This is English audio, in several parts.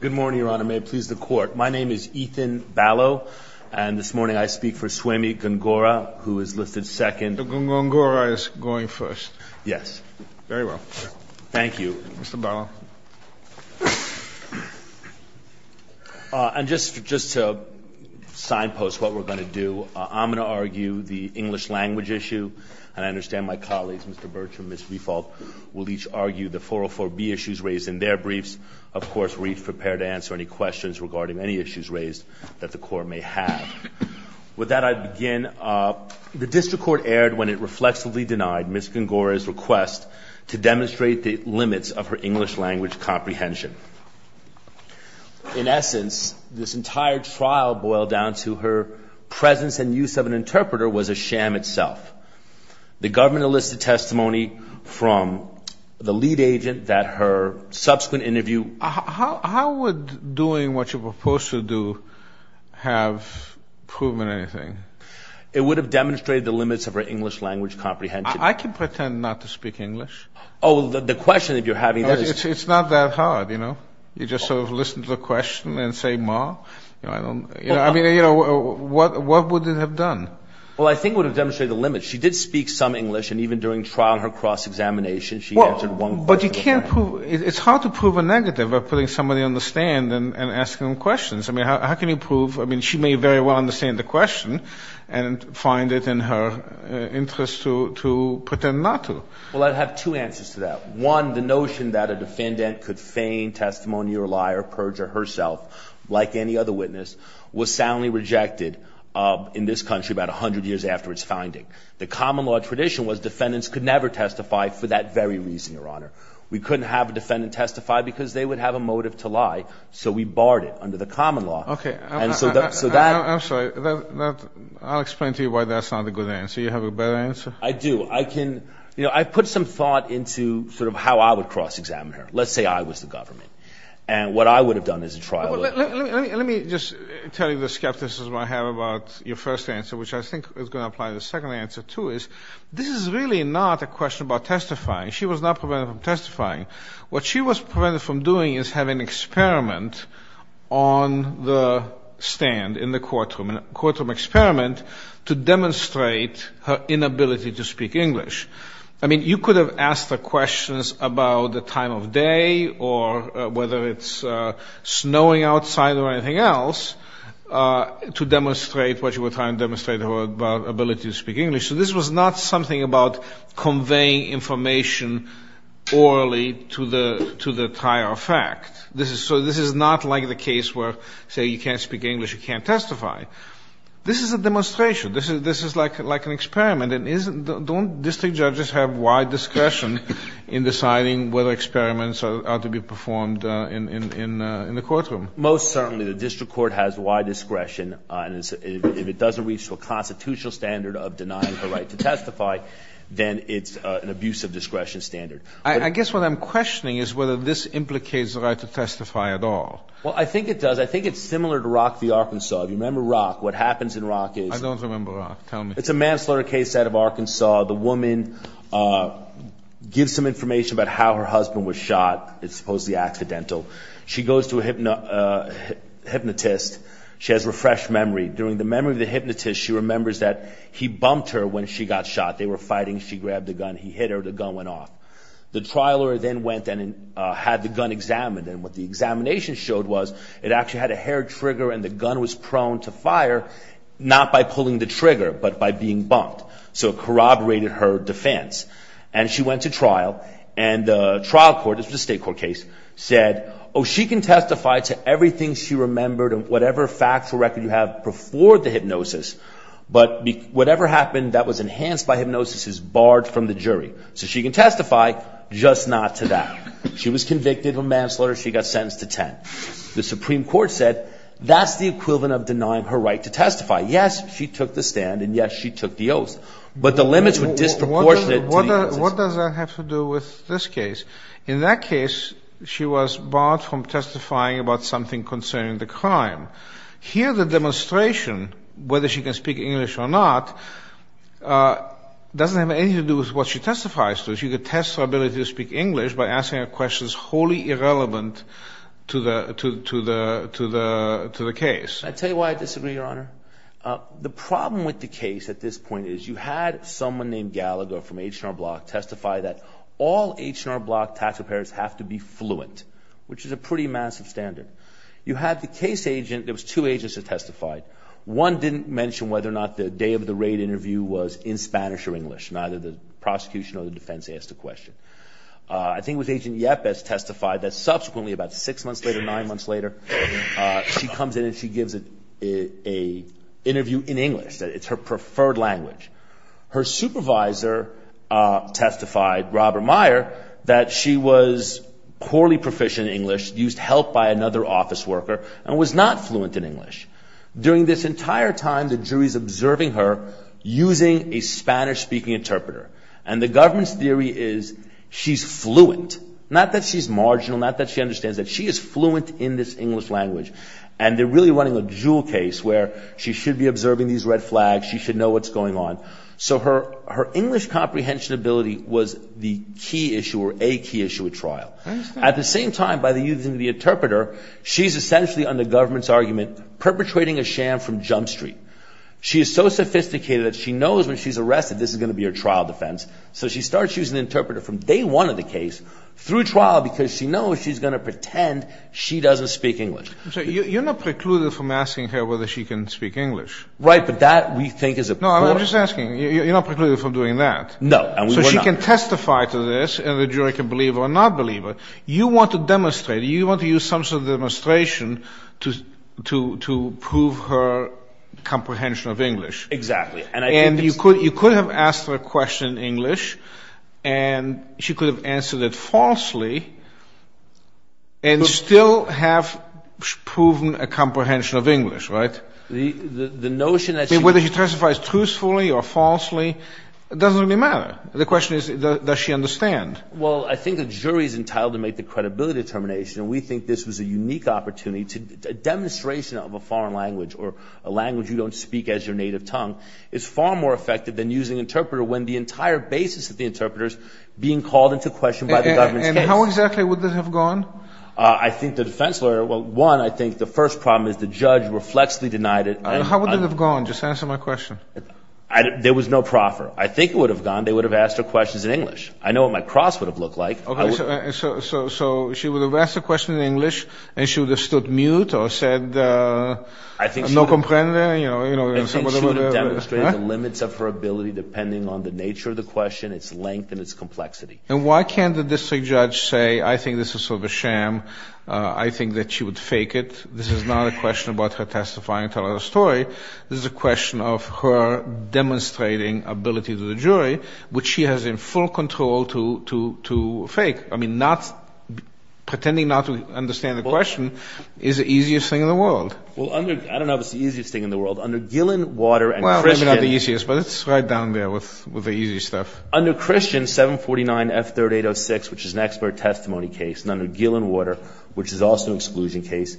Good morning, Your Honor. May it please the Court. My name is Ethan Ballo, and this morning I speak for Suemi Gungora, who is listed second. Mr. Gungora is going first. Yes. Very well. Thank you. Mr. Ballo. And just to signpost what we're going to do, I'm going to argue the English language issue. And I understand my colleagues, Mr. Birch and Ms. Riefald, will each argue the 404B issues raised in their briefs. Of course, we're each prepared to answer any questions regarding any issues raised that the Court may have. With that, I begin. The district court erred when it reflexively denied Ms. Gungora's request to demonstrate the limits of her English language comprehension. In essence, this entire trial boiled down to her presence and use of an interpreter was a sham itself. The government enlisted testimony from the lead agent that her subsequent interview... How would doing what you're supposed to do have proven anything? It would have demonstrated the limits of her English language comprehension. I can pretend not to speak English. Oh, the question that you're having there is... It's not that hard, you know. You just sort of listen to the question and say, ma. I mean, you know, what would it have done? Well, I think it would have demonstrated the limits. She did speak some English, and even during trial in her cross-examination, she answered one question. But you can't prove... It's hard to prove a negative by putting somebody on the stand and asking them questions. I mean, how can you prove... I mean, she may very well understand the question and find it in her interest to pretend not to. Well, I'd have two answers to that. One, the notion that a defendant could feign testimony or lie or perjure herself, like any other witness, was soundly rejected in this country about 100 years after its finding. The common law tradition was defendants could never testify for that very reason, Your Honor. We couldn't have a defendant testify because they would have a motive to lie, so we barred it under the common law. Okay. And so that... I'm sorry. I'll explain to you why that's not a good answer. You have a better answer? I do. I can... You know, I've put some thought into sort of how I would cross-examine her. Let's say I was the government, and what I would have done as a trial lawyer... Let me just tell you the skepticism I have about your first answer, which I think is going to apply to the second answer, too, is this is really not a question about testifying. She was not prevented from testifying. What she was prevented from doing is have an experiment on the stand in the courtroom, a courtroom experiment, to demonstrate her inability to speak English. I mean, you could have asked her questions about the time of day or whether it's snowing outside or anything else to demonstrate what you were trying to demonstrate about her ability to speak English. So this was not something about conveying information orally to the prior effect. So this is not like the case where, say, you can't speak English, you can't testify. This is a demonstration. This is like an experiment. Don't district judges have wide discretion in deciding whether experiments are to be performed in the courtroom? Most certainly the district court has wide discretion. If it doesn't reach a constitutional standard of denying her right to testify, then it's an abuse of discretion standard. I guess what I'm questioning is whether this implicates the right to testify at all. Well, I think it does. I think it's similar to Rock v. Arkansas. If you remember Rock, what happens in Rock is... I don't remember Rock. Tell me. It's a manslaughter case out of Arkansas. The woman gives some information about how her husband was shot. It's supposedly accidental. She goes to a hypnotist. She has refreshed memory. During the memory of the hypnotist, she remembers that he bumped her when she got shot. They were fighting. She grabbed the gun. He hit her. The gun went off. The trial lawyer then went and had the gun examined. What the examination showed was it actually had a hair trigger, and the gun was prone to fire, not by pulling the trigger, but by being bumped. So it corroborated her defense. She went to trial, and the trial court, this was a state court case, said, Oh, she can testify to everything she remembered and whatever factual record you have before the hypnosis, but whatever happened that was enhanced by hypnosis is barred from the jury. So she can testify, just not to that. She was convicted of manslaughter. She got sentenced to 10. The Supreme Court said that's the equivalent of denying her right to testify. Yes, she took the stand, and, yes, she took the oath. But the limits were disproportionate. What does that have to do with this case? In that case, she was barred from testifying about something concerning the crime. Here, the demonstration, whether she can speak English or not, doesn't have anything to do with what she testifies to. She could test her ability to speak English by asking her questions wholly irrelevant to the case. Can I tell you why I disagree, Your Honor? The problem with the case at this point is you had someone named Gallagher from H&R Block testify that all H&R Block tax preparers have to be fluent, which is a pretty massive standard. You had the case agent. There was two agents that testified. One didn't mention whether or not the day of the raid interview was in Spanish or English, neither the prosecution or the defense asked a question. I think it was agent Yepes that testified that subsequently, about six months later, nine months later, she comes in and she gives an interview in English. It's her preferred language. Her supervisor testified, Robert Meyer, that she was poorly proficient in English, used help by another office worker, and was not fluent in English. During this entire time, the jury is observing her using a Spanish-speaking interpreter, and the government's theory is she's fluent, not that she's marginal, not that she understands that she is fluent in this English language, and they're really running a jewel case where she should be observing these red flags, she should know what's going on. So her English comprehension ability was the key issue or a key issue at trial. At the same time, by using the interpreter, she's essentially under government's argument perpetrating a sham from Jump Street. She is so sophisticated that she knows when she's arrested this is going to be her trial defense, so she starts using the interpreter from day one of the case through trial because she knows she's going to pretend she doesn't speak English. So you're not precluded from asking her whether she can speak English. Right, but that, we think, is a problem. No, I'm just asking. You're not precluded from doing that. No, and we were not. So she can testify to this, and the jury can believe her or not believe her. You want to demonstrate, you want to use some sort of demonstration to prove her comprehension of English. Exactly. And you could have asked her a question in English, and she could have answered it falsely and still have proven a comprehension of English, right? The notion that she Whether she testifies truthfully or falsely, it doesn't really matter. The question is, does she understand? Well, I think the jury is entitled to make the credibility determination, and we think this was a unique opportunity. A demonstration of a foreign language or a language you don't speak as your native tongue is far more effective than using interpreter when the entire basis of the interpreter is being called into question by the government's case. And how exactly would this have gone? I think the defense lawyer, well, one, I think the first problem is the judge reflexively denied it. How would it have gone? Just answer my question. There was no proffer. I think it would have gone. They would have asked her questions in English. I know what my cross would have looked like. So she would have asked a question in English, and she would have stood mute or said, I think she would have demonstrated the limits of her ability depending on the nature of the question, its length, and its complexity. And why can't the district judge say, I think this is sort of a sham, I think that she would fake it. This is not a question about her testifying and telling her story. This is a question of her demonstrating ability to the jury, which she has in full control to fake. I mean, pretending not to understand the question is the easiest thing in the world. Well, I don't know if it's the easiest thing in the world. Under Gillen, Water, and Christian. Well, maybe not the easiest, but it's right down there with the easy stuff. Under Christian, 749F3806, which is an expert testimony case, and under Gillen, Water, which is also an exclusion case,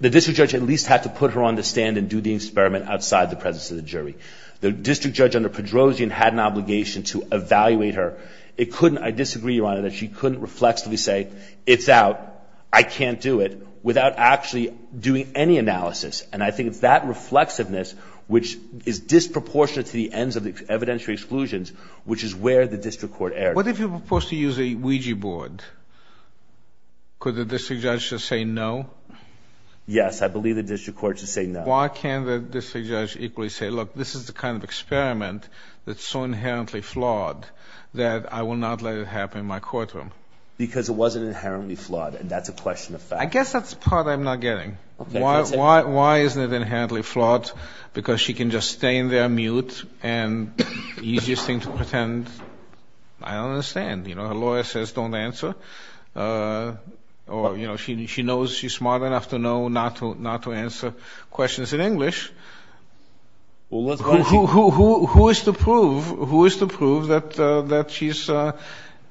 the district judge at least had to put her on the stand and do the experiment outside the presence of the jury. The district judge under Pedrosian had an obligation to evaluate her. It couldn't, I disagree, Your Honor, that she couldn't reflexively say, it's out, I can't do it, without actually doing any analysis. And I think it's that reflexiveness which is disproportionate to the ends of the evidentiary exclusions, which is where the district court erred. What if you propose to use a Ouija board? Could the district judge just say no? Yes, I believe the district court should say no. Why can't the district judge equally say, look, this is the kind of experiment that's so inherently flawed that I will not let it happen in my courtroom? Because it wasn't inherently flawed, and that's a question of fact. I guess that's the part I'm not getting. Why isn't it inherently flawed? Because she can just stay in there, mute, and the easiest thing to pretend, I don't understand. You know, her lawyer says don't answer. Or, you know, she knows she's smart enough to know not to answer questions in English. Who is to prove that she's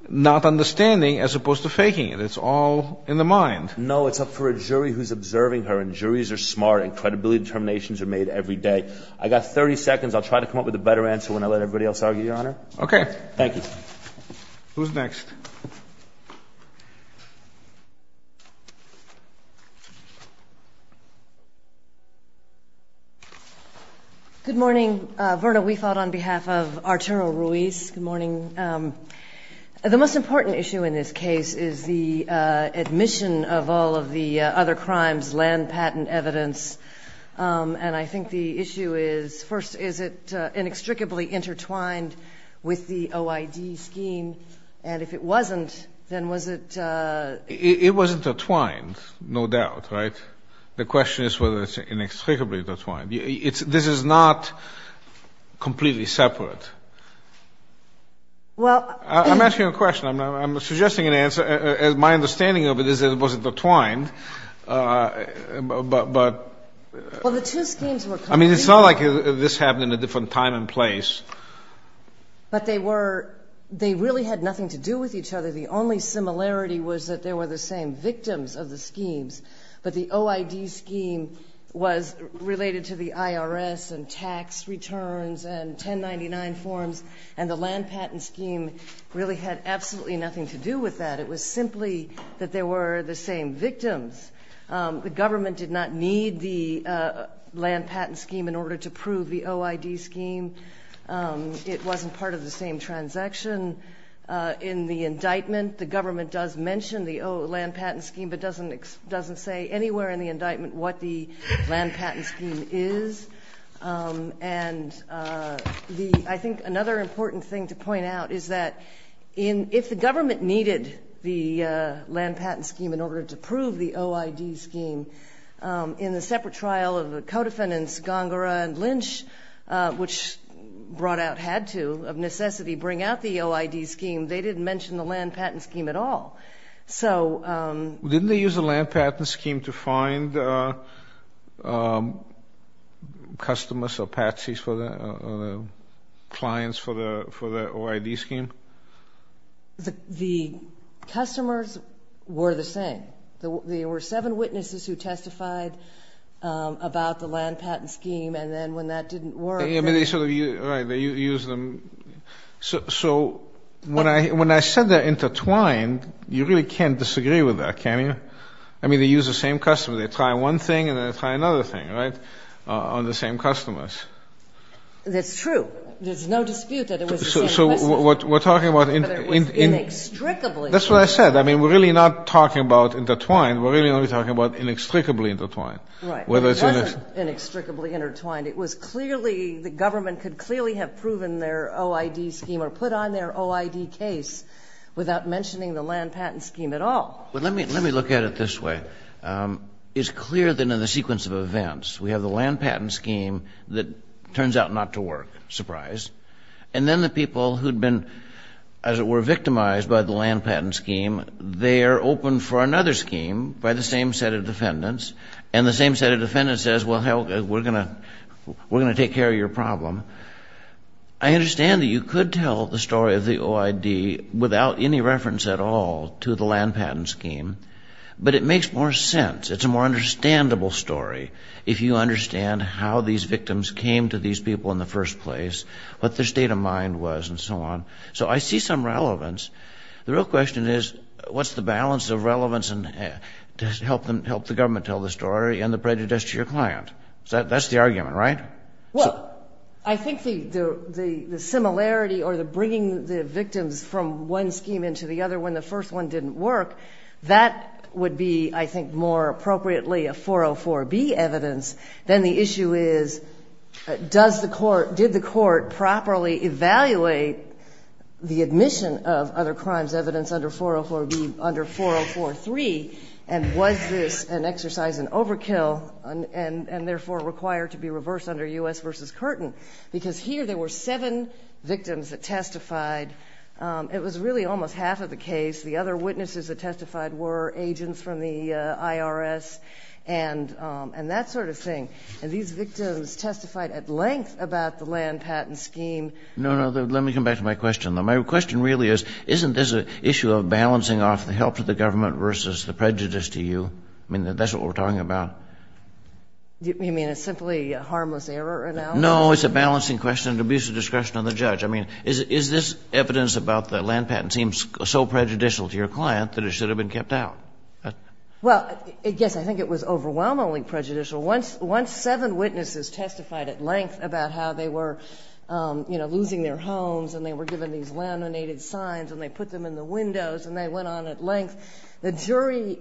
not understanding as opposed to faking it? It's all in the mind. No, it's up for a jury who's observing her, and juries are smart, and credibility determinations are made every day. I've got 30 seconds. I'll try to come up with a better answer when I let everybody else argue, Your Honor. Okay. Thank you. Who's next? Good morning. Good morning. The most important issue in this case is the admission of all of the other crimes, land patent evidence. And I think the issue is, first, is it inextricably intertwined with the OID scheme? And if it wasn't, then was it? It was intertwined, no doubt, right? The question is whether it's inextricably intertwined. This is not completely separate. I'm asking you a question. I'm suggesting an answer. My understanding of it is that it wasn't intertwined. Well, the two schemes were. I mean, it's not like this happened in a different time and place. But they were. They really had nothing to do with each other. The only similarity was that they were the same victims of the schemes, but the OID scheme was related to the IRS and tax returns and 1099 forms, and the land patent scheme really had absolutely nothing to do with that. It was simply that they were the same victims. The government did not need the land patent scheme in order to prove the OID scheme. It wasn't part of the same transaction. In the indictment, the government does mention the land patent scheme but doesn't say anywhere in the indictment what the land patent scheme is. And I think another important thing to point out is that if the government needed the land patent scheme in order to prove the OID scheme, in the separate trial of the codefendants, Gongora and Lynch, which brought out had to, of necessity, bring out the OID scheme, they didn't mention the land patent scheme at all. Didn't they use the land patent scheme to find customers or patsies or clients for the OID scheme? The customers were the same. There were seven witnesses who testified about the land patent scheme, and then when that didn't work, they... So when I said they're intertwined, you really can't disagree with that, can you? I mean, they use the same customer. They try one thing and then they try another thing, right, on the same customers. That's true. There's no dispute that it was the same witnesses. So we're talking about... Whether it was inextricably... That's what I said. I mean, we're really not talking about intertwined. We're really only talking about inextricably intertwined. Right. Whether it's... It wasn't inextricably intertwined. It was clearly... The government could clearly have proven their OID scheme or put on their OID case without mentioning the land patent scheme at all. But let me look at it this way. It's clear that in the sequence of events, we have the land patent scheme that turns out not to work, surprise, and then the people who had been, as it were, victimized by the land patent scheme, they are open for another scheme by the same set of defendants, and the same set of defendants says, well, hell, we're going to take care of your problem. I understand that you could tell the story of the OID without any reference at all to the land patent scheme, but it makes more sense. It's a more understandable story if you understand how these victims came to these people in the first place, what their state of mind was, and so on. So I see some relevance. The real question is, what's the balance of relevance to help the government tell the story and the prejudice to your client? That's the argument, right? Well, I think the similarity or the bringing the victims from one scheme into the other when the first one didn't work, that would be, I think, more appropriately a 404B evidence than the issue is, did the court properly evaluate the admission of other crimes evidence under 404B, under 4043, and was this an exercise in overkill and therefore required to be reversed under U.S. v. Curtin? Because here there were seven victims that testified. It was really almost half of the case. The other witnesses that testified were agents from the IRS and that sort of thing. And these victims testified at length about the land patent scheme. No, no. Let me come back to my question, though. My question really is, isn't this an issue of balancing off the help to the government versus the prejudice to you? I mean, that's what we're talking about. You mean a simply harmless error analysis? No, it's a balancing question of abuse of discretion on the judge. I mean, is this evidence about the land patent scheme so prejudicial to your client that it should have been kept out? Well, yes, I think it was overwhelmingly prejudicial. Once seven witnesses testified at length about how they were, you know, losing their homes and they were given these laminated signs and they put them in the windows and they went on at length, the jury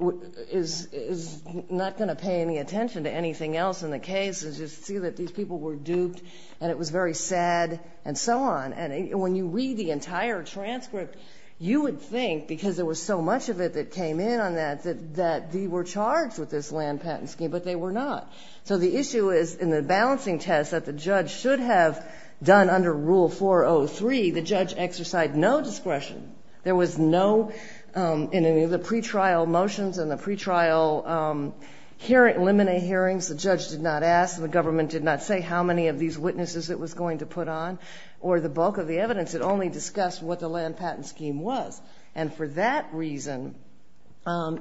is not going to pay any attention to anything else in the case and just see that these people were duped and it was very sad and so on. And when you read the entire transcript, you would think, because there was so much of it that came in on that, that they were charged with this land patent scheme, but they were not. So the issue is in the balancing test that the judge should have done under Rule 403, the judge exercised no discretion. There was no, in the pretrial motions and the pretrial laminate hearings, the judge did not ask and the government did not say how many of these witnesses it was going to put on or the bulk of the evidence. It only discussed what the land patent scheme was. And for that reason,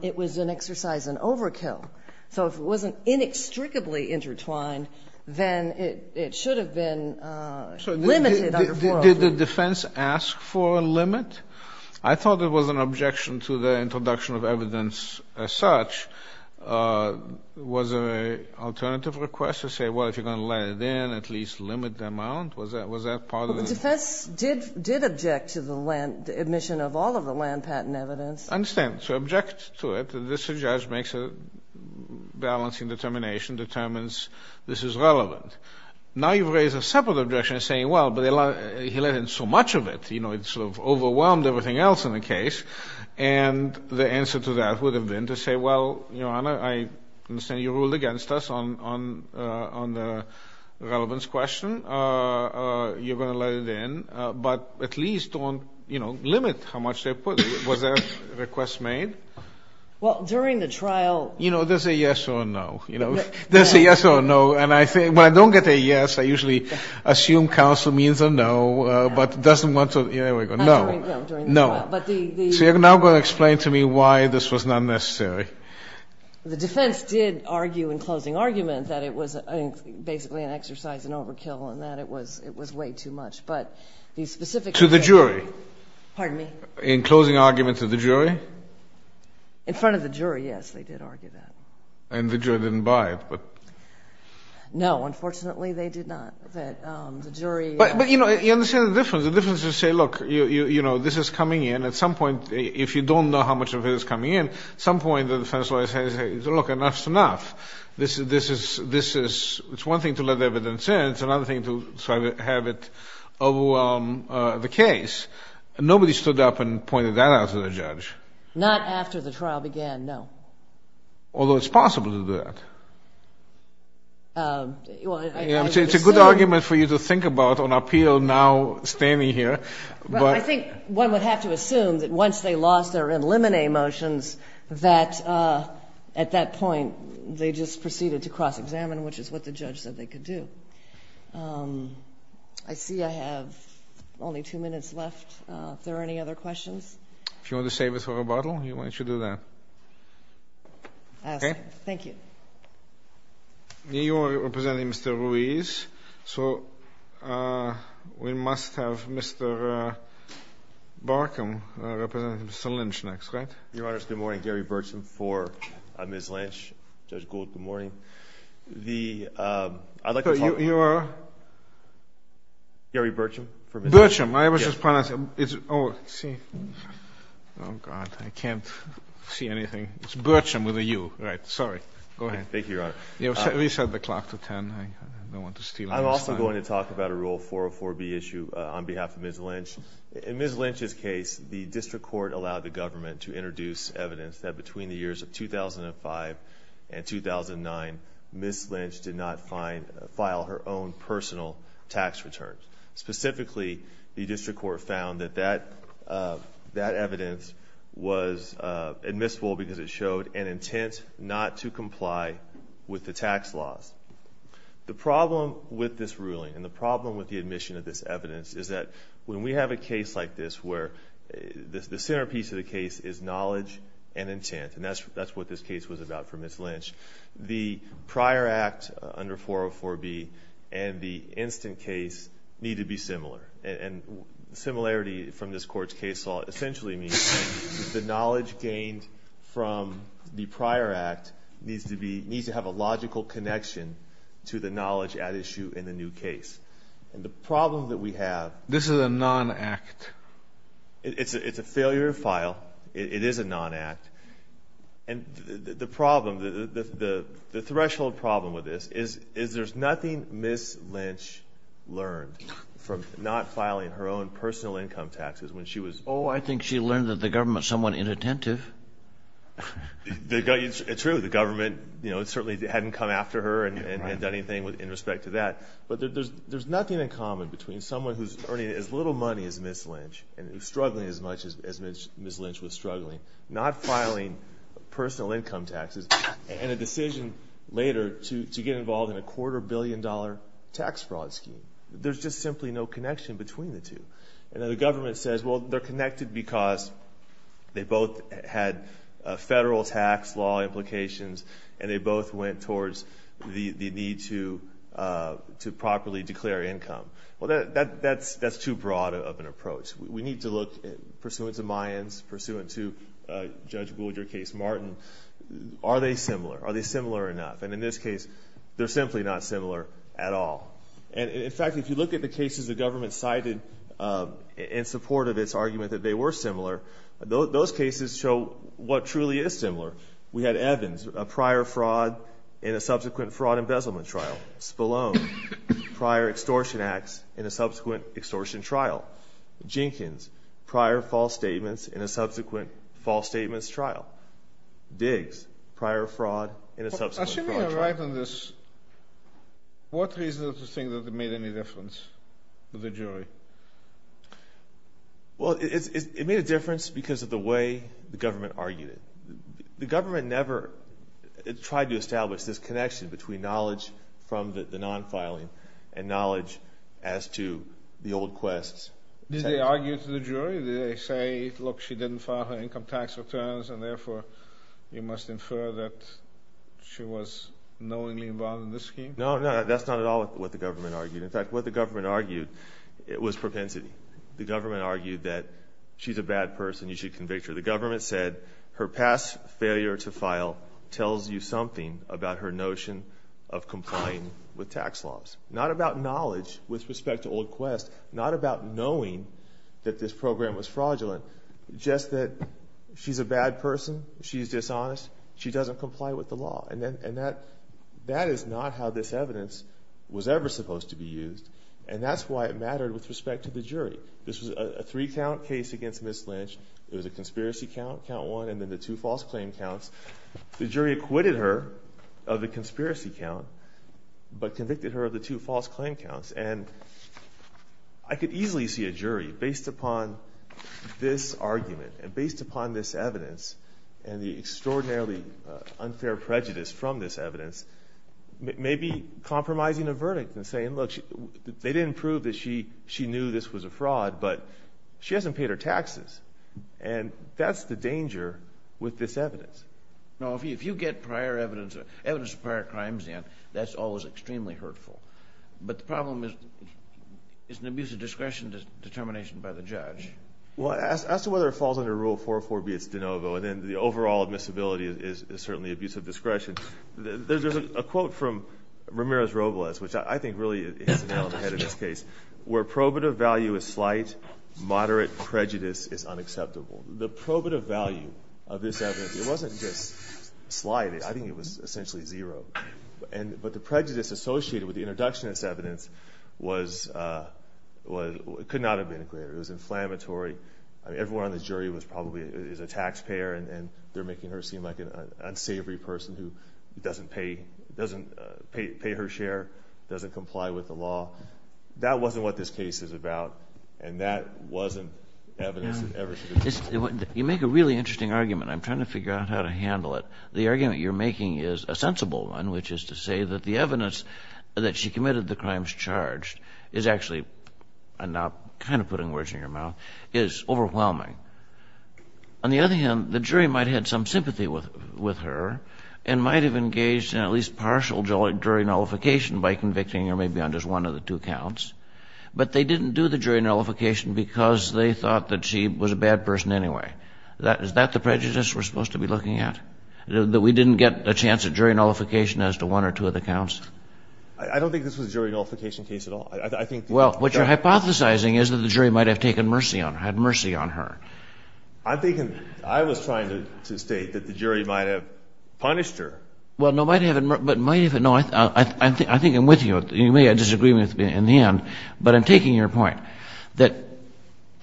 it was an exercise in overkill. So if it wasn't inextricably intertwined, then it should have been limited under 403. Did the defense ask for a limit? I thought it was an objection to the introduction of evidence as such. Was there an alternative request to say, well, if you're going to let it in, at least limit the amount? Was that part of it? Well, the defense did object to the land, the admission of all of the land patent evidence. I understand. So object to it. This judge makes a balancing determination, determines this is relevant. Now you've raised a separate objection saying, well, but he let in so much of it, you know, it sort of overwhelmed everything else in the case. And the answer to that would have been to say, well, Your Honor, I understand you ruled against us on the relevance question. You're going to let it in. But at least limit how much they put. Was there a request made? Well, during the trial. You know, there's a yes or a no. There's a yes or a no. And I think when I don't get a yes, I usually assume counsel means a no, but doesn't want to, there we go, no. No. So you're now going to explain to me why this was not necessary. The defense did argue in closing argument that it was basically an exercise in overkill and that it was way too much. But the specific case. To the jury. Pardon me? In closing argument to the jury. In front of the jury, yes, they did argue that. And the jury didn't buy it, but. No, unfortunately they did not, that the jury. But, you know, you understand the difference. The difference is to say, look, you know, this is coming in. At some point, if you don't know how much of it is coming in, at some point the defense lawyer says, look, enough's enough. This is, it's one thing to let the evidence in. It's another thing to try to have it overwhelm the case. Nobody stood up and pointed that out to the judge. Not after the trial began, no. Although it's possible to do that. It's a good argument for you to think about on appeal now standing here. I think one would have to assume that once they lost their in limine motions, that at that point they just proceeded to cross examine, which is what the judge said they could do. I see I have only two minutes left. If there are any other questions. If you want to save it for rebuttal, why don't you do that. Thank you. You are representing Mr. Ruiz. So we must have Mr. Barkum representing Mr. Lynch next, right? Your Honor, good morning. Gary Burcham for Ms. Lynch. Judge Gould, good morning. The, I'd like to talk. You are? Gary Burcham. Burcham. Oh, God, I can't see anything. It's Burcham with a U. Right. Sorry. Go ahead. Thank you, Your Honor. Reset the clock to 10. I don't want to steal. I'm also going to talk about a Rule 404B issue on behalf of Ms. Lynch. In Ms. Lynch's case, the district court allowed the government to introduce evidence that between the years of 2005 and 2009, Ms. Lynch did not file her own personal tax returns. Specifically, the district court found that that evidence was admissible because it showed an intent not to comply with the tax laws. The problem with this ruling, and the problem with the admission of this evidence, is that when we have a case like this where the centerpiece of the case is knowledge and intent, and that's what this case was about for Ms. Lynch, the prior act under 404B and the instant case need to be similar. And similarity from this Court's case law essentially means that the knowledge gained from the prior act needs to be, needs to have a logical connection to the knowledge at issue in the new case. And the problem that we have. This is a non-act. It's a failure of file. It is a non-act. And the problem, the threshold problem with this is there's nothing Ms. Lynch learned from not filing her own personal income taxes when she was... Oh, I think she learned that the government's somewhat inattentive. It's true. The government certainly hadn't come after her and done anything in respect to that. But there's nothing in common between someone who's earning as little money as Ms. Lynch and struggling as much as Ms. Lynch was struggling, not filing personal income taxes, and a decision later to get involved in a quarter-billion-dollar tax fraud scheme. There's just simply no connection between the two. And the government says, well, they're connected because they both had federal tax law implications and they both went towards the need to properly declare income. Well, that's too broad of an approach. We need to look pursuant to Mayans, pursuant to Judge Gould, your case, Martin. Are they similar? Are they similar enough? And in this case, they're simply not similar at all. In fact, if you look at the cases the government cited in support of its argument that they were similar, those cases show what truly is similar. We had Evans, a prior fraud in a subsequent fraud embezzlement trial. Spallone, prior extortion acts in a subsequent extortion trial. Jenkins, prior false statements in a subsequent false statements trial. Diggs, prior fraud in a subsequent fraud trial. Assuming you're right on this, what reason to think that it made any difference to the jury? Well, it made a difference because of the way the government argued it. The government never tried to establish this connection between knowledge from the non-filing and knowledge as to the old quests. Did they argue to the jury? Did they say, look, she didn't file her income tax returns and therefore you must infer that she was knowingly involved in this scheme? No, no, that's not at all what the government argued. In fact, what the government argued, it was propensity. The government argued that she's a bad person, you should convict her. The government said her past failure to file tells you something about her notion of complying with tax laws. Not about knowledge with respect to old quests, not about knowing that this program was fraudulent, just that she's a bad person, she's dishonest, she doesn't comply with the law. And that is not how this evidence was ever supposed to be used. And that's why it mattered with respect to the jury. This was a three-count case against Ms. Lynch. It was a conspiracy count, count one, and then the two false claim counts. The jury acquitted her of the conspiracy count but convicted her of the two false claim counts. And I could easily see a jury, based upon this argument and based upon this evidence and the extraordinarily unfair prejudice from this evidence, maybe compromising a verdict and saying, look, they didn't prove that she knew this was a fraud, but she hasn't paid her taxes. And that's the danger with this evidence. Now, if you get prior evidence, evidence of prior crimes in, that's always extremely hurtful. But the problem is it's an abuse of discretion determination by the judge. Well, as to whether it falls under Rule 404B, it's de novo, and then the overall admissibility is certainly abuse of discretion. There's a quote from Ramirez-Robles, which I think really hits the nail on the head in this case, where probative value is slight, moderate prejudice is unacceptable. The probative value of this evidence, it wasn't just slight. I think it was essentially zero. But the prejudice associated with the introduction of this evidence could not have been included. It was inflammatory. Everyone on the jury was probably a taxpayer, and they're making her seem like an unsavory person who doesn't pay her share, doesn't comply with the law. That wasn't what this case is about, and that wasn't evidence that ever should have been included. You make a really interesting argument. I'm trying to figure out how to handle it. The argument you're making is a sensible one, which is to say that the evidence that she committed the crimes charged is actually, I'm now kind of putting words in your mouth, is overwhelming. On the other hand, the jury might have had some sympathy with her and might have engaged in at least partial jury nullification by convicting her maybe on just one of the two counts, but they didn't do the jury nullification because they thought that she was a bad person anyway. Is that the prejudice we're supposed to be looking at, that we didn't get a chance at jury nullification as to one or two of the counts? I don't think this was a jury nullification case at all. Well, what you're hypothesizing is that the jury might have taken mercy on her, had mercy on her. I'm thinking I was trying to state that the jury might have punished her. Well, no, might have, but might have. No, I think I'm with you. You may disagree with me in the end, but I'm taking your point that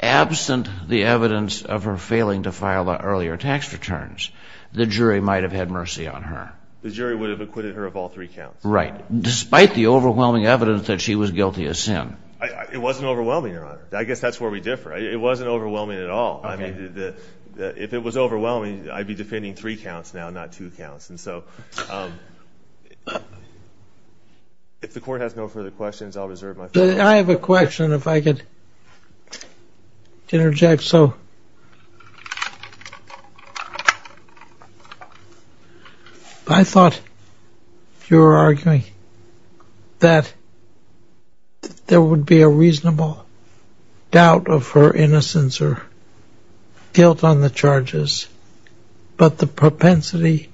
absent the evidence of her failing to file the earlier tax returns, the jury might have had mercy on her. The jury would have acquitted her of all three counts. Right. Despite the overwhelming evidence that she was guilty of sin. It wasn't overwhelming, Your Honor. I guess that's where we differ. It wasn't overwhelming at all. I mean, if it was overwhelming, I'd be defending three counts now, not two counts. And so if the court has no further questions, I'll reserve my floor. I have a question if I could interject. So I thought you were arguing that there would be a reasonable doubt of her innocence or guilt on the charges, but the propensity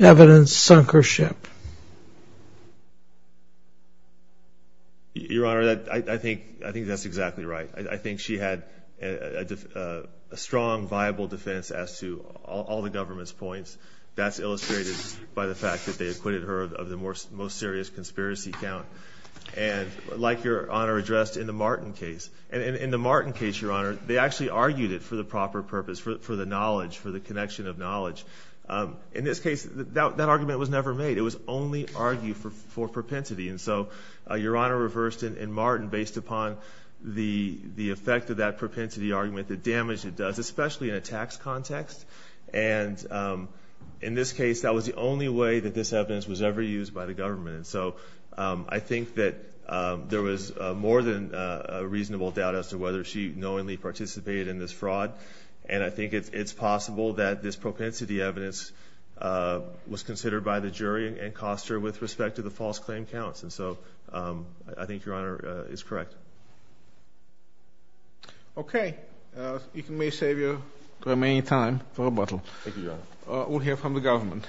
evidence sunk her ship. Your Honor, I think that's exactly right. I think she had a strong, viable defense as to all the government's points. That's illustrated by the fact that they acquitted her of the most serious conspiracy count. And like Your Honor addressed in the Martin case, and in the Martin case, Your Honor, they actually argued it for the proper purpose, for the knowledge, for the connection of knowledge. In this case, that argument was never made. It was only argued for propensity. And so Your Honor reversed in Martin based upon the effect of that propensity argument, the damage it does, especially in a tax context. And in this case, that was the only way that this evidence was ever used by the government. And so I think that there was more than a reasonable doubt as to whether she knowingly participated in this fraud. And I think it's possible that this propensity evidence was considered by the jury and Koster with respect to the false claim counts. And so I think Your Honor is correct. Okay. You may save your remaining time for rebuttal. Thank you, Your Honor. We'll hear from the government.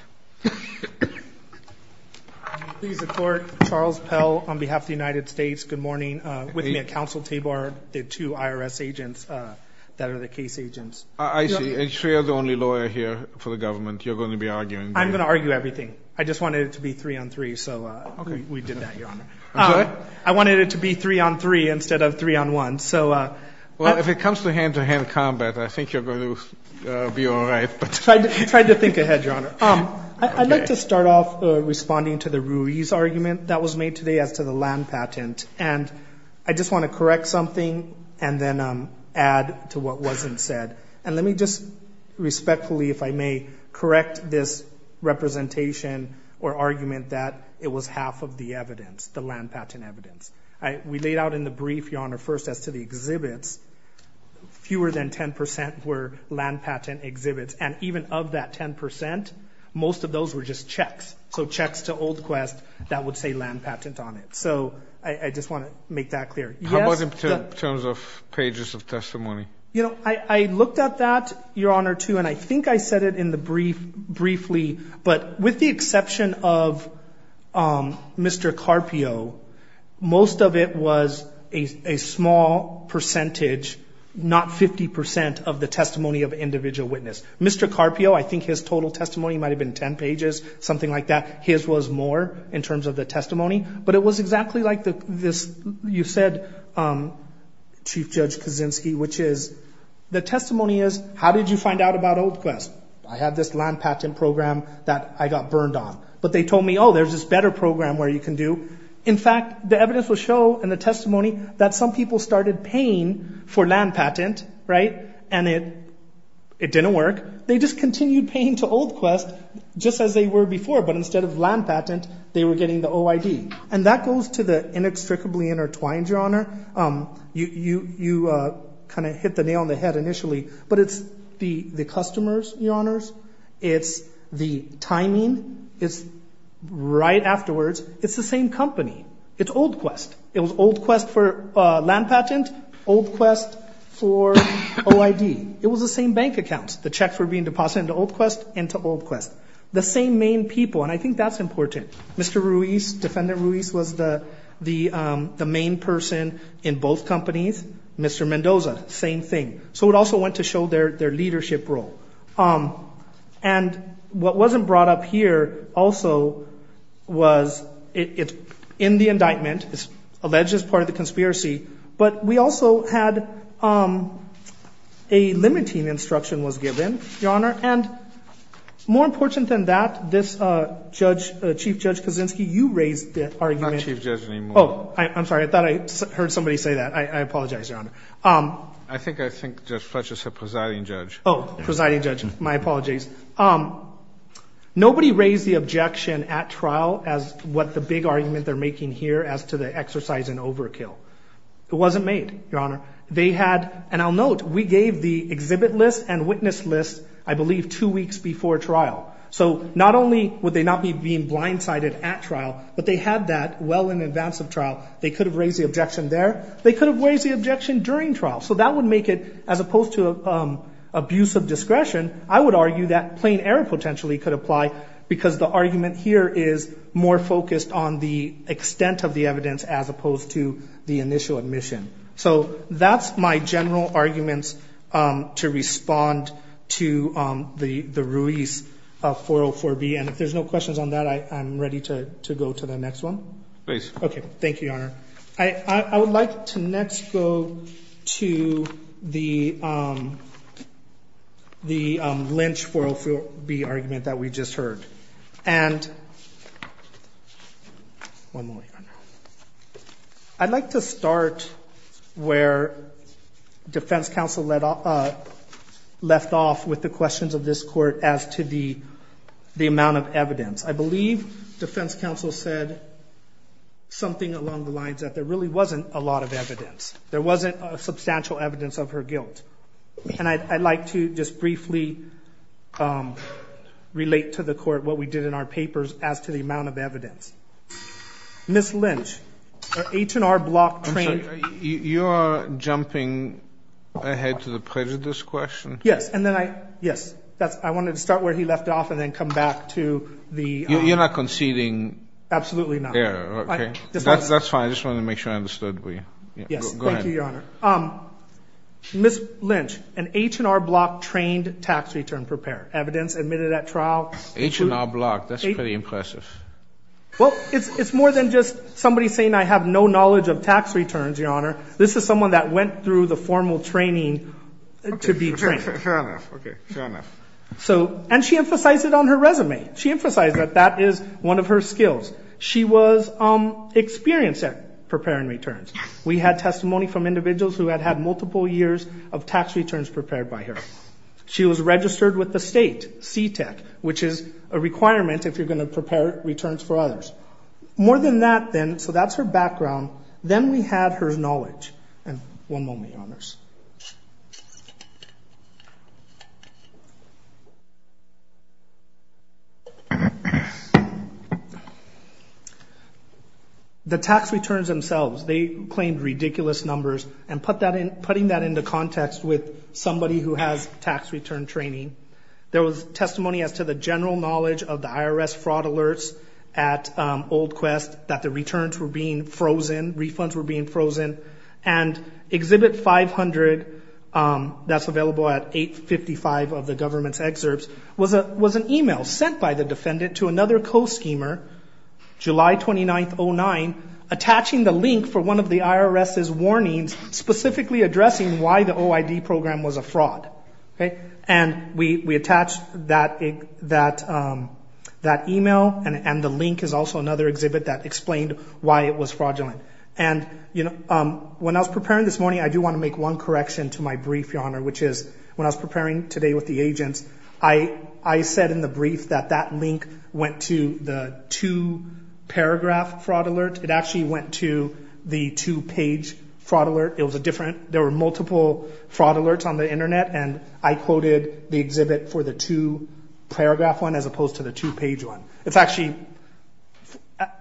Please support Charles Pell on behalf of the United States. Good morning. With me are Counsel Tabar, the two IRS agents that are the case agents. I see. And so you're the only lawyer here for the government. You're going to be arguing. I'm going to argue everything. I just wanted it to be three on three, so we did that, Your Honor. I'm sorry? I wanted it to be three on three instead of three on one. Well, if it comes to hand-to-hand combat, I think you're going to be all right. I tried to think ahead, Your Honor. I'd like to start off responding to the Ruiz argument that was made today as to the land patent. And I just want to correct something and then add to what wasn't said. And let me just respectfully, if I may, correct this representation or argument that it was half of the evidence, the land patent evidence. We laid out in the brief, Your Honor, first as to the exhibits, fewer than 10% were land patent exhibits. And even of that 10%, most of those were just checks, so checks to Old Quest that would say land patent on it. So I just want to make that clear. How about in terms of pages of testimony? You know, I looked at that, Your Honor, too, and I think I said it in the brief briefly, but with the exception of Mr. Carpio, most of it was a small percentage, not 50% of the testimony of individual witness. Mr. Carpio, I think his total testimony might have been 10 pages, something like that. His was more in terms of the testimony. But it was exactly like you said, Chief Judge Kaczynski, which is the testimony is, how did you find out about Old Quest? I had this land patent program that I got burned on. But they told me, oh, there's this better program where you can do. In fact, the evidence will show in the testimony that some people started paying for land patent, right? And it didn't work. They just continued paying to Old Quest just as they were before. But instead of land patent, they were getting the OID. And that goes to the inextricably intertwined, Your Honor. You kind of hit the nail on the head initially. But it's the customers, Your Honors. It's the timing. It's right afterwards. It's the same company. It's Old Quest. It was Old Quest for land patent, Old Quest for OID. It was the same bank accounts. The checks were being deposited into Old Quest and to Old Quest. The same main people, and I think that's important. Mr. Ruiz, Defendant Ruiz was the main person in both companies. Mr. Mendoza, same thing. So it also went to show their leadership role. And what wasn't brought up here also was it's in the indictment. It's alleged as part of the conspiracy. But we also had a limiting instruction was given, Your Honor. And more important than that, this judge, Chief Judge Kaczynski, you raised the argument. I'm not Chief Judge anymore. Oh, I'm sorry. I thought I heard somebody say that. I apologize, Your Honor. I think I think Judge Fletcher said presiding judge. Oh, presiding judge. My apologies. Nobody raised the objection at trial as what the big argument they're making here as to the exercise in overkill. It wasn't made, Your Honor. They had, and I'll note, we gave the exhibit list and witness list, I believe, two weeks before trial. So not only would they not be being blindsided at trial, but they had that well in advance of trial. They could have raised the objection there. They could have raised the objection during trial. So that would make it, as opposed to abuse of discretion, I would argue that plain error potentially could apply, because the argument here is more focused on the extent of the evidence as opposed to the initial admission. So that's my general arguments to respond to the release of 404B. And if there's no questions on that, I'm ready to go to the next one. Okay. Thank you, Your Honor. I would like to next go to the Lynch 404B argument that we just heard. And I'd like to start where defense counsel left off with the questions of this court as to the amount of evidence. I believe defense counsel said something along the lines that there really wasn't a lot of evidence. There wasn't substantial evidence of her guilt. And I'd like to just briefly relate to the court what we did in our papers as to the amount of evidence. Ms. Lynch, H&R Block trained ---- I'm sorry. You are jumping ahead to the prejudice question. Yes. I wanted to start where he left off and then come back to the ---- You're not conceding ---- Absolutely not. That's fine. I just wanted to make sure I understood. Yes. Thank you, Your Honor. Ms. Lynch, an H&R Block trained tax return preparer. Evidence admitted at trial ---- H&R Block. That's pretty impressive. Well, it's more than just somebody saying I have no knowledge of tax returns, Your Honor. This is someone that went through the formal training to be trained. Fair enough. Okay. Fair enough. And she emphasized it on her resume. She emphasized that that is one of her skills. She was experienced at preparing returns. We had testimony from individuals who had had multiple years of tax returns prepared by her. She was registered with the state, CTEC, which is a requirement if you're going to prepare returns for others. More than that, then, so that's her background. Then we had her knowledge. And one moment, Your Honors. The tax returns themselves, they claimed ridiculous numbers, and putting that into context with somebody who has tax return training, there was testimony as to the general knowledge of the IRS fraud alerts at Old Quest that the returns were being frozen, refunds were being frozen. And Exhibit 500, that's available at 855 of the government's excerpts, was an email sent by the defendant to another co-schemer, July 29, 2009, attaching the link for one of the IRS's warnings specifically addressing why the OID program was a fraud. And we attached that email, and the link is also another exhibit that explained why it was fraudulent. And when I was preparing this morning, I do want to make one correction to my brief, Your Honor, which is when I was preparing today with the agents, I said in the brief that that link went to the two-paragraph fraud alert. It actually went to the two-page fraud alert. It was a different, there were multiple fraud alerts on the Internet, and I quoted the exhibit for the two-paragraph one as opposed to the two-page one. It's actually,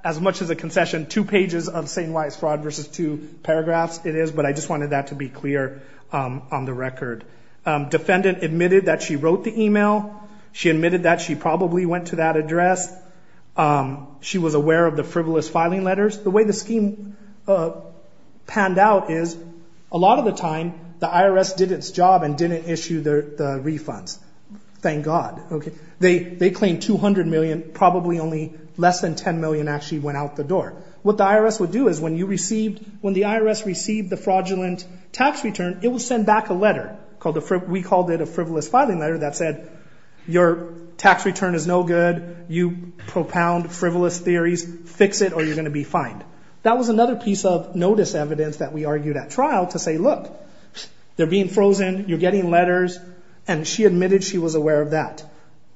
as much as a concession, two pages of saying why it's fraud versus two paragraphs it is, but I just wanted that to be clear on the record. Defendant admitted that she wrote the email. She admitted that she probably went to that address. She was aware of the frivolous filing letters. The way the scheme panned out is a lot of the time, the IRS did its job and didn't issue the refunds. Thank God. They claimed $200 million, probably only less than $10 million actually went out the door. What the IRS would do is when you received, when the IRS received the fraudulent tax return, it would send back a letter. We called it a frivolous filing letter that said, Your tax return is no good. You propound frivolous theories. Fix it or you're going to be fined. That was another piece of notice evidence that we argued at trial to say, look, they're being frozen. You're getting letters, and she admitted she was aware of that.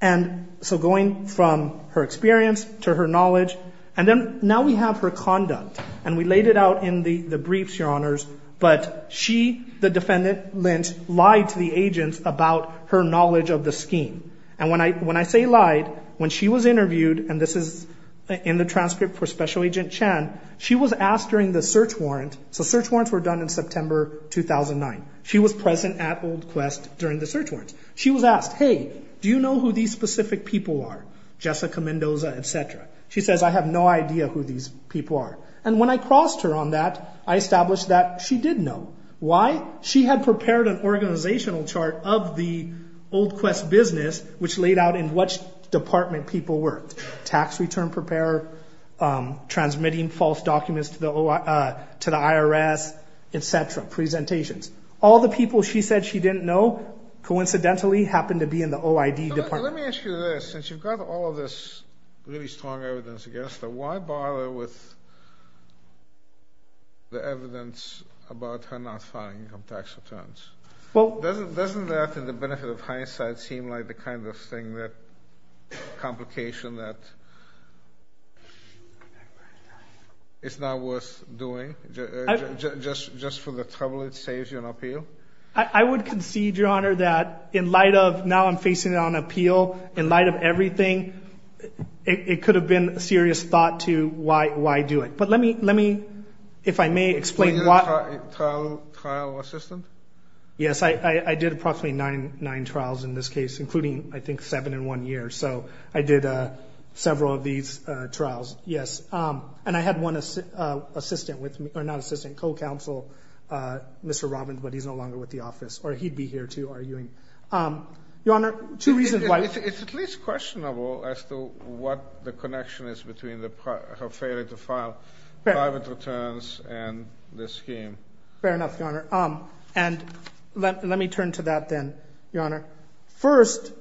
And so going from her experience to her knowledge, and then now we have her conduct, and we laid it out in the briefs, Your Honors, but she, the defendant, Lynt, lied to the agents about her knowledge of the scheme. And when I say lied, when she was interviewed, and this is in the transcript for Special Agent Chan, she was asked during the search warrant. So search warrants were done in September 2009. She was present at Old Quest during the search warrant. She was asked, Hey, do you know who these specific people are? Jessica Mendoza, et cetera. She says, I have no idea who these people are. And when I crossed her on that, I established that she did know. Why? She had prepared an organizational chart of the Old Quest business, which laid out in which department people worked, tax return preparer, transmitting false documents to the IRS, et cetera, presentations. All the people she said she didn't know coincidentally happened to be in the OID department. Let me ask you this. Since you've got all of this really strong evidence against her, why bother with the evidence about her not filing income tax returns? Doesn't that, in the benefit of hindsight, seem like the kind of thing that, complication that is not worth doing? Just for the trouble it saves you on appeal? I would concede, Your Honor, that in light of now I'm facing it on appeal, in light of everything, it could have been a serious thought to why do it. But let me, if I may, explain why. Were you a trial assistant? Yes, I did approximately nine trials in this case, including, I think, seven in one year. So I did several of these trials, yes. And I had one assistant with me, or not assistant, co-counsel, Mr. Robbins, but he's no longer with the office, or he'd be here, too, arguing. Your Honor, two reasons why. It's at least questionable as to what the connection is between her failure to file private returns and the scheme. Fair enough, Your Honor. And let me turn to that then, Your Honor. First,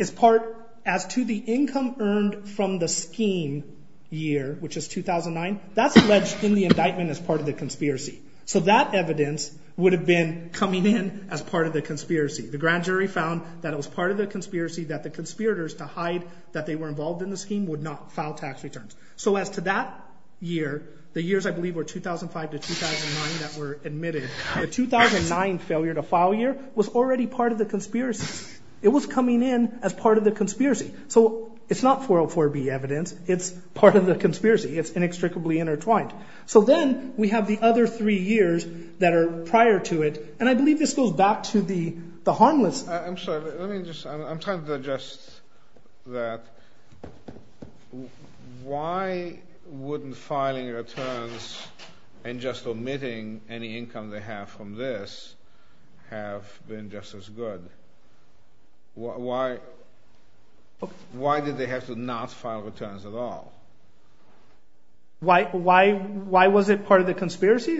as to the income earned from the scheme year, which is 2009, that's alleged in the indictment as part of the conspiracy. So that evidence would have been coming in as part of the conspiracy. The grand jury found that it was part of the conspiracy that the conspirators, to hide that they were involved in the scheme, would not file tax returns. So as to that year, the years I believe were 2005 to 2009 that were admitted, the 2009 failure to file year was already part of the conspiracy. It was coming in as part of the conspiracy. So it's not 404B evidence. It's part of the conspiracy. It's inextricably intertwined. So then we have the other three years that are prior to it, and I believe this goes back to the harmless. I'm sorry. I'm trying to digest that. Why wouldn't filing returns and just omitting any income they have from this have been just as good? Why did they have to not file returns at all? Why was it part of the conspiracy?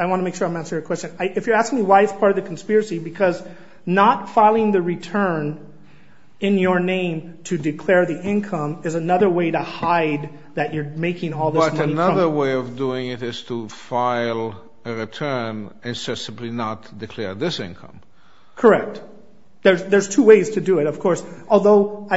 I want to make sure I'm answering your question. If you're asking me why it's part of the conspiracy, because not filing the return in your name to declare the income is another way to hide that you're making all this money. But another way of doing it is to file a return and simply not declare this income. Correct. There's two ways to do it, of course, although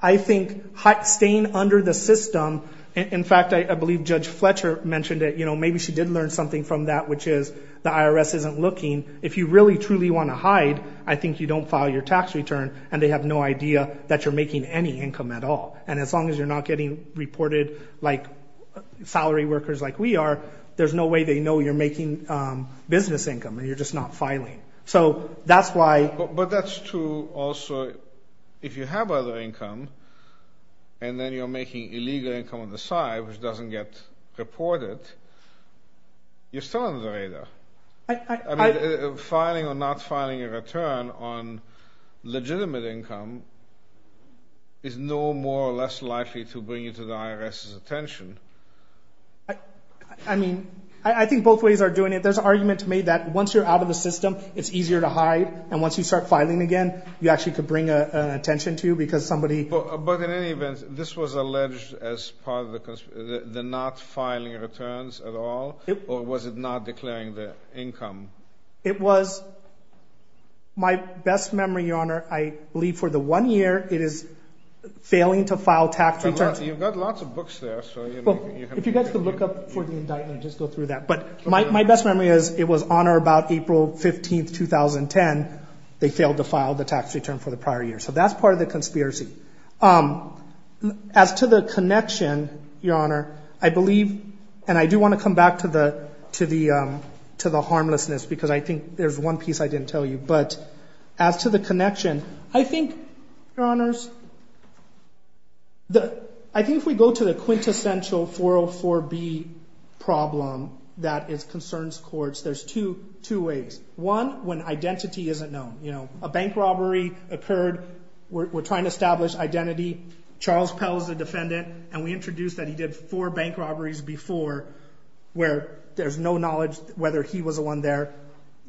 I think staying under the system, in fact, I believe Judge Fletcher mentioned it. Maybe she did learn something from that, which is the IRS isn't looking. If you really truly want to hide, I think you don't file your tax return, and they have no idea that you're making any income at all. And as long as you're not getting reported like salary workers like we are, there's no way they know you're making business income and you're just not filing. So that's why. But that's true also if you have other income and then you're making illegal income on the side, which doesn't get reported, you're still under the radar. Filing or not filing a return on legitimate income is no more or less likely to bring you to the IRS's attention. I mean, I think both ways are doing it. There's an argument made that once you're out of the system, it's easier to hide, and once you start filing again, you actually could bring attention to because somebody. But in any event, this was alleged as part of the not filing returns at all, or was it not declaring the income? It was. My best memory, Your Honor, I believe for the one year it is failing to file tax returns. You've got lots of books there. If you guys can look up for the indictment, just go through that. But my best memory is it was on or about April 15, 2010, they failed to file the tax return for the prior year. So that's part of the conspiracy. As to the connection, Your Honor, I believe, and I do want to come back to the harmlessness because I think there's one piece I didn't tell you. But as to the connection, I think, Your Honors, I think if we go to the quintessential 404B problem that is concerns courts, there's two ways. One, when identity isn't known. A bank robbery occurred. We're trying to establish identity. Charles Pell is a defendant, and we introduced that he did four bank robberies before where there's no knowledge whether he was the one there.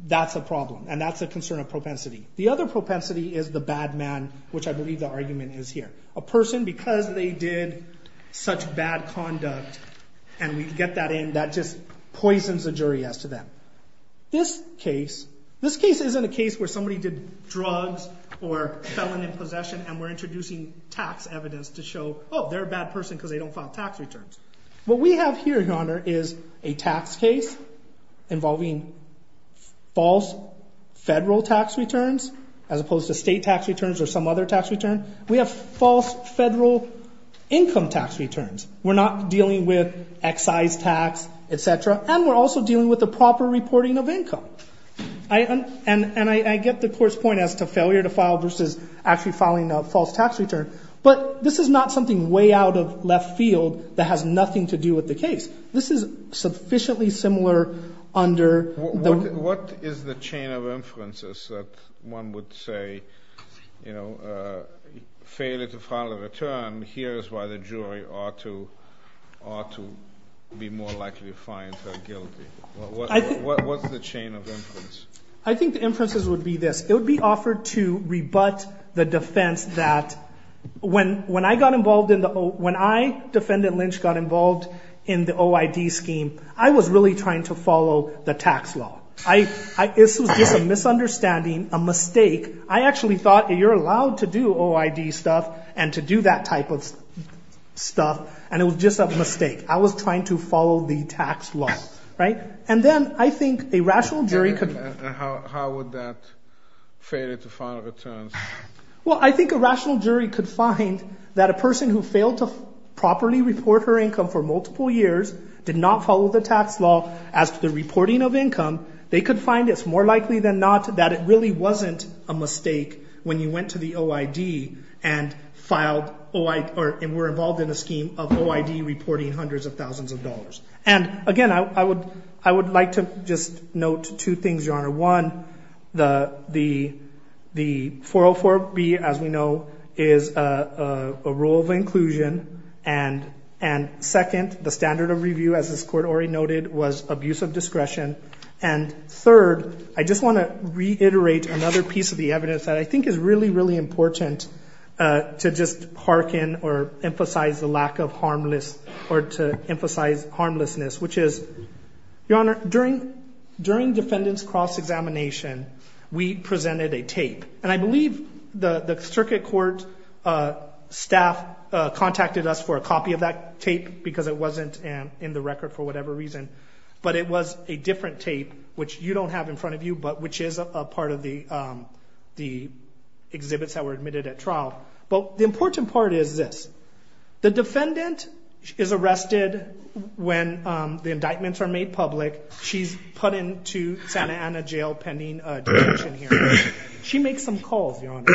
That's a problem, and that's a concern of propensity. The other propensity is the bad man, which I believe the argument is here. A person, because they did such bad conduct, and we get that in, that just poisons the jury as to them. This case, this case isn't a case where somebody did drugs or felon in possession, and we're introducing tax evidence to show, oh, they're a bad person because they don't file tax returns. What we have here, Your Honor, is a tax case involving false federal tax returns as opposed to state tax returns or some other tax return. We have false federal income tax returns. We're not dealing with excise tax, et cetera, and we're also dealing with the proper reporting of income. And I get the court's point as to failure to file versus actually filing a false tax return, but this is not something way out of left field that has nothing to do with the case. This is sufficiently similar under the- What is the chain of inferences that one would say, you know, failure to file a return, here is why the jury ought to be more likely to find her guilty? What's the chain of inference? I think the inferences would be this. When I got involved in the O- When I, Defendant Lynch, got involved in the OID scheme, I was really trying to follow the tax law. This was just a misunderstanding, a mistake. I actually thought you're allowed to do OID stuff and to do that type of stuff, and it was just a mistake. I was trying to follow the tax law, right? And then I think a rational jury could- And how would that fail you to file returns? Well, I think a rational jury could find that a person who failed to properly report her income for multiple years, did not follow the tax law as to the reporting of income, they could find it's more likely than not that it really wasn't a mistake when you went to the OID and were involved in a scheme of OID reporting hundreds of thousands of dollars. And again, I would like to just note two things, Your Honor. One, the 404-B, as we know, is a rule of inclusion. And second, the standard of review, as this Court already noted, was abuse of discretion. And third, I just want to reiterate another piece of the evidence that I think is really, really important to just hearken or emphasize the lack of harmless or to emphasize harmlessness, which is, Your Honor, during defendant's cross-examination, we presented a tape. And I believe the circuit court staff contacted us for a copy of that tape because it wasn't in the record for whatever reason. But it was a different tape, which you don't have in front of you, but which is a part of the exhibits that were admitted at trial. But the important part is this. The defendant is arrested when the indictments are made public. She's put into Santa Ana Jail pending detention here. She makes some calls, Your Honor.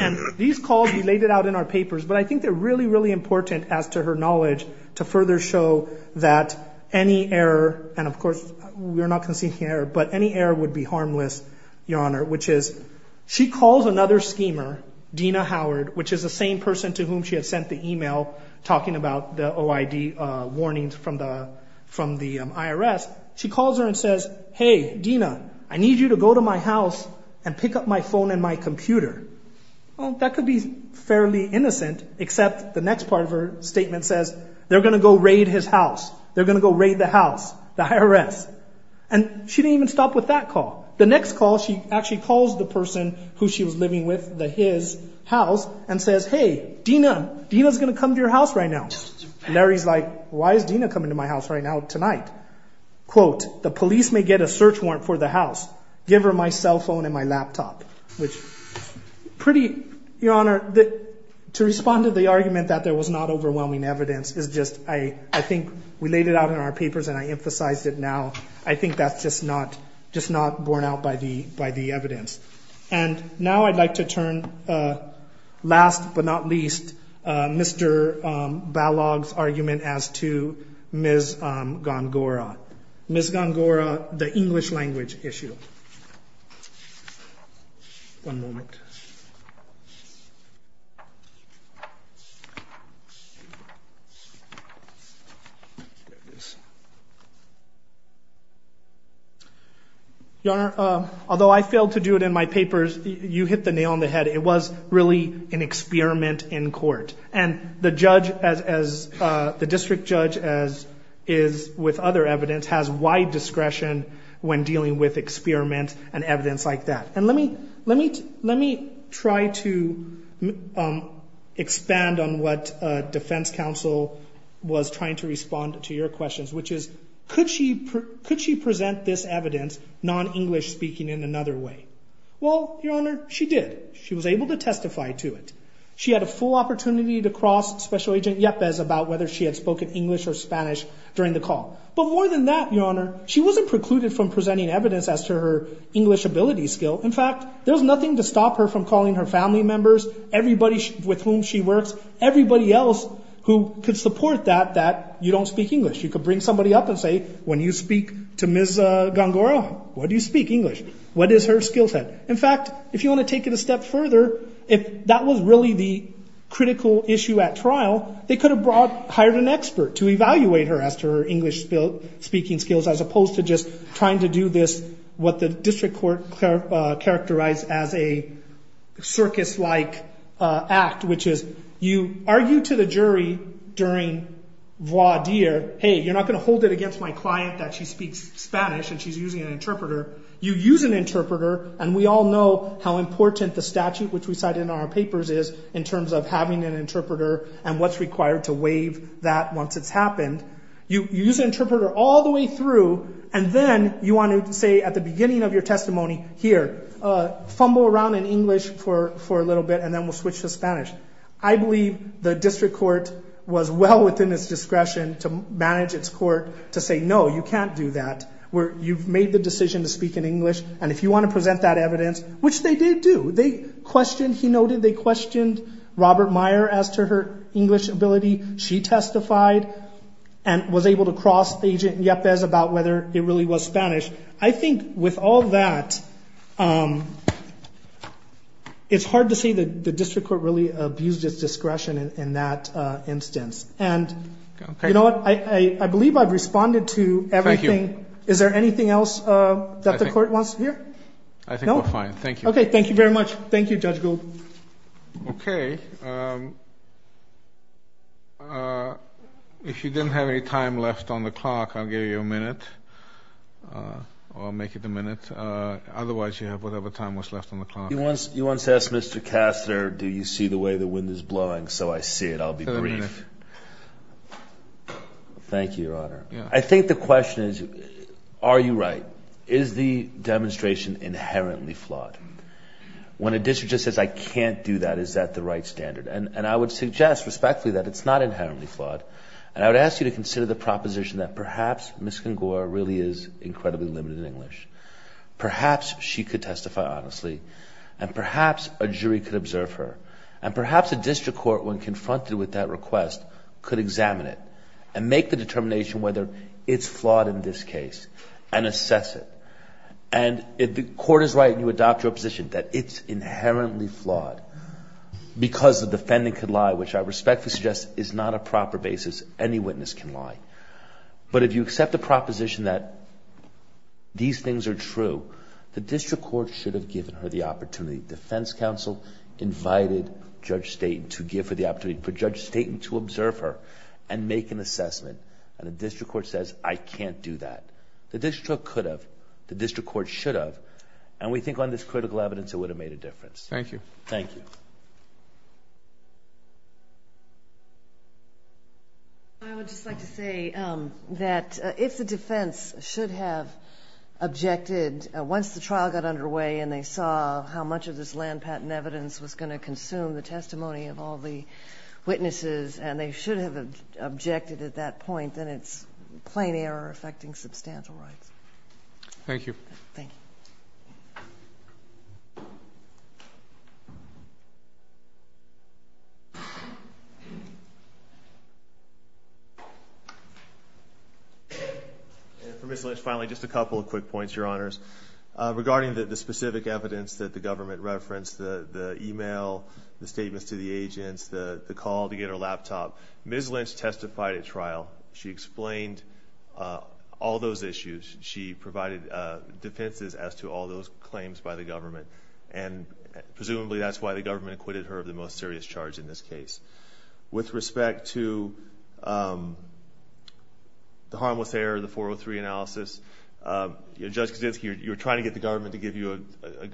And these calls, we laid it out in our papers. But I think they're really, really important, as to her knowledge, to further show that any error, and of course we're not conceding error, but any error would be harmless, Your Honor, which is she calls another schemer, Dina Howard, which is the same person to whom she had sent the email talking about the OID warnings from the IRS. She calls her and says, Hey, Dina, I need you to go to my house and pick up my phone and my computer. That could be fairly innocent, except the next part of her statement says, They're going to go raid his house. They're going to go raid the house, the IRS. And she didn't even stop with that call. The next call, she actually calls the person who she was living with, his house, and says, Hey, Dina, Dina's going to come to your house right now. Larry's like, Why is Dina coming to my house right now, tonight? Quote, The police may get a search warrant for the house. Give her my cell phone and my laptop. Which, pretty, Your Honor, to respond to the argument that there was not overwhelming evidence is just, I think we laid it out in our papers and I emphasized it now. I think that's just not borne out by the evidence. And now I'd like to turn, last but not least, Mr. Balog's argument as to Ms. Gongora. Ms. Gongora, the English language issue. One moment. Your Honor, although I failed to do it in my papers, you hit the nail on the head. It was really an experiment in court. And the judge, the district judge, as is with other evidence, has wide discretion when dealing with experiments and evidence like that. And let me try to expand on what defense counsel was trying to respond to your questions, which is, could she present this evidence, non-English speaking, in another way? Well, Your Honor, she did. She was able to testify to it. She had a full opportunity to cross Special Agent Yepez about whether she had spoken English or Spanish during the call. But more than that, Your Honor, she wasn't precluded from presenting evidence as to her English ability skill. In fact, there was nothing to stop her from calling her family members, everybody with whom she works, everybody else who could support that, that you don't speak English. You could bring somebody up and say, when you speak to Ms. Gongora, what do you speak, English? What is her skill set? In fact, if you want to take it a step further, if that was really the critical issue at trial, they could have brought, hired an expert to evaluate her as to her English speaking skills as opposed to just trying to do this, what the district court characterized as a circus-like act, which is you argue to the jury during voir dire, hey, you're not going to hold it against my client that she speaks Spanish and she's using an interpreter. You use an interpreter, and we all know how important the statute which we cited in our papers is in terms of having an interpreter and what's required to waive that once it's happened. You use an interpreter all the way through, and then you want to say at the beginning of your testimony, here, fumble around in English for a little bit, and then we'll switch to Spanish. I believe the district court was well within its discretion to manage its court to say, no, you can't do that. You've made the decision to speak in English, and if you want to present that evidence, which they did do, they questioned, he noted, they questioned Robert Meyer as to her English ability. She testified and was able to cross Agent Yepez about whether it really was Spanish. I think with all that, it's hard to say the district court really abused its discretion in that instance. You know what? I believe I've responded to everything. Thank you. Is there anything else that the court wants to hear? I think we're fine. Thank you. Okay. Thank you very much. Thank you, Judge Gould. Okay. If you didn't have any time left on the clock, I'll give you a minute. I'll make it a minute. Otherwise, you have whatever time was left on the clock. You once asked Mr. Kastner, do you see the way the wind is blowing? So I see it. I'll be brief. Thank you, Your Honor. I think the question is, are you right? Is the demonstration inherently flawed? When a district just says, I can't do that, is that the right standard? And I would suggest, respectfully, that it's not inherently flawed, and I would ask you to consider the proposition that perhaps Ms. Congora really is incredibly limited in English. Perhaps she could testify honestly, and perhaps a jury could observe her, and perhaps a district court, when confronted with that request, could examine it and make the determination whether it's flawed in this case and assess it. And if the court is right and you adopt your position that it's inherently flawed because the defendant could lie, which I respectfully suggest is not a proper basis, any witness can lie. But if you accept the proposition that these things are true, the district court should have given her the opportunity. Defense counsel invited Judge Staten to give her the opportunity for Judge Staten to observe her and make an assessment. And the district court says, I can't do that. The district court could have. The district court should have. And we think on this critical evidence it would have made a difference. Thank you. Thank you. Thank you. I would just like to say that if the defense should have objected once the trial got underway and they saw how much of this land patent evidence was going to consume the testimony of all the witnesses and they should have objected at that point, then it's plain error affecting substantial rights. Thank you. Thank you. And for Ms. Lynch, finally, just a couple of quick points, Your Honors. Regarding the specific evidence that the government referenced, the e-mail, the statements to the agents, the call to get her laptop, Ms. Lynch testified at trial. She explained all those issues. She provided defenses as to all those claims by the government, and presumably that's why the government acquitted her of the most serious charge in this case. With respect to the harmless error, the 403 analysis, Judge Kaczynski, you were trying to get the government to give you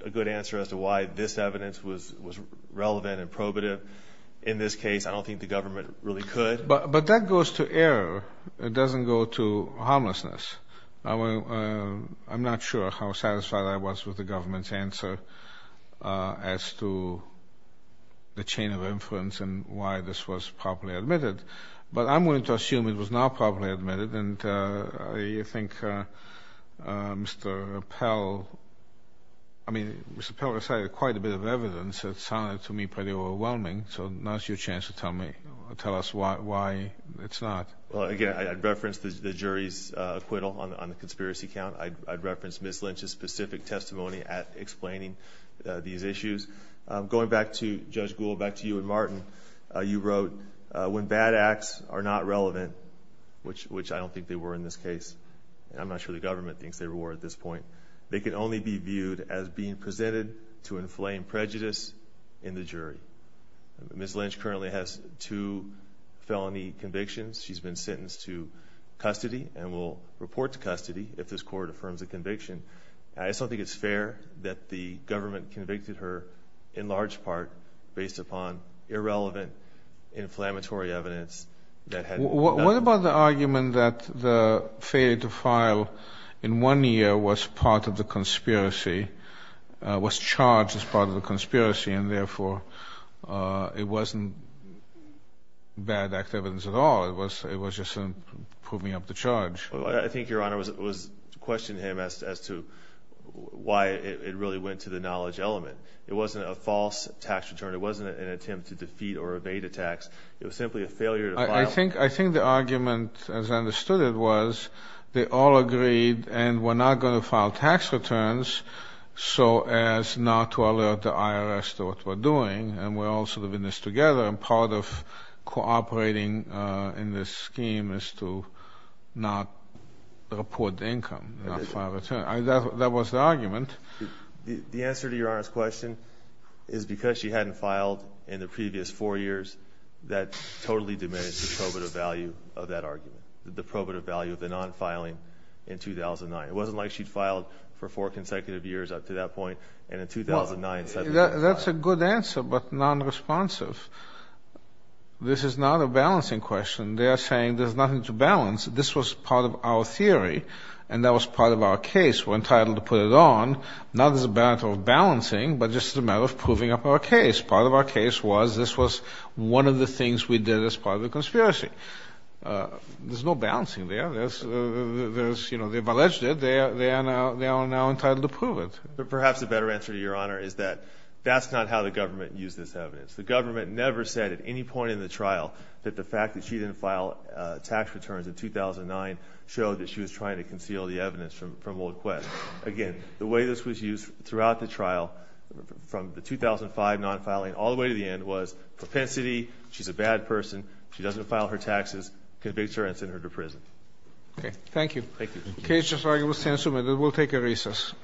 a good answer as to why this evidence was relevant and probative. In this case, I don't think the government really could. But that goes to error. It doesn't go to harmlessness. I'm not sure how satisfied I was with the government's answer as to the chain of inference and why this was properly admitted, but I'm willing to assume it was not properly admitted, and I think Mr. Pell, I mean, Mr. Pell recited quite a bit of evidence that sounded to me pretty overwhelming, so now's your chance to tell us why it's not. Well, again, I'd reference the jury's acquittal on the conspiracy count. I'd reference Ms. Lynch's specific testimony at explaining these issues. Going back to Judge Gould, back to you and Martin, you wrote, when bad acts are not relevant, which I don't think they were in this case, and I'm not sure the government thinks they were at this point, they can only be viewed as being presented to inflame prejudice in the jury. Ms. Lynch currently has two felony convictions. She's been sentenced to custody and will report to custody if this court affirms the conviction. I just don't think it's fair that the government convicted her, in large part, based upon irrelevant inflammatory evidence. What about the argument that the failure to file in one year was part of the conspiracy, was charged as part of the conspiracy, and therefore it wasn't bad act evidence at all, it was just proving up the charge? I think Your Honor was questioning him as to why it really went to the knowledge element. It wasn't a false tax return. It wasn't an attempt to defeat or evade a tax. It was simply a failure to file. I think the argument, as I understood it, was they all agreed and were not going to file tax returns so as not to alert the IRS to what we're doing, and we're all sort of in this together, and part of cooperating in this scheme is to not report the income, not file returns. That was the argument. The answer to Your Honor's question is because she hadn't filed in the previous four years, that totally diminished the probative value of that argument, the probative value of the non-filing in 2009. It wasn't like she'd filed for four consecutive years up to that point, and in 2009 suddenly didn't file. That's a good answer, but nonresponsive. This is not a balancing question. They are saying there's nothing to balance. This was part of our theory, and that was part of our case. We're entitled to put it on, not as a matter of balancing, but just as a matter of proving up our case. Part of our case was this was one of the things we did as part of the conspiracy. There's no balancing there. They've alleged it. They are now entitled to prove it. Perhaps a better answer to Your Honor is that that's not how the government used this evidence. The government never said at any point in the trial that the fact that she didn't file tax returns in 2009 showed that she was trying to conceal the evidence from Old Quest. Again, the way this was used throughout the trial, from the 2005 non-filing all the way to the end, was propensity, she's a bad person, she doesn't file her taxes, convict her and send her to prison. Okay. Thank you. Thank you. The case is argued with 10 to the minute. We'll take a recess.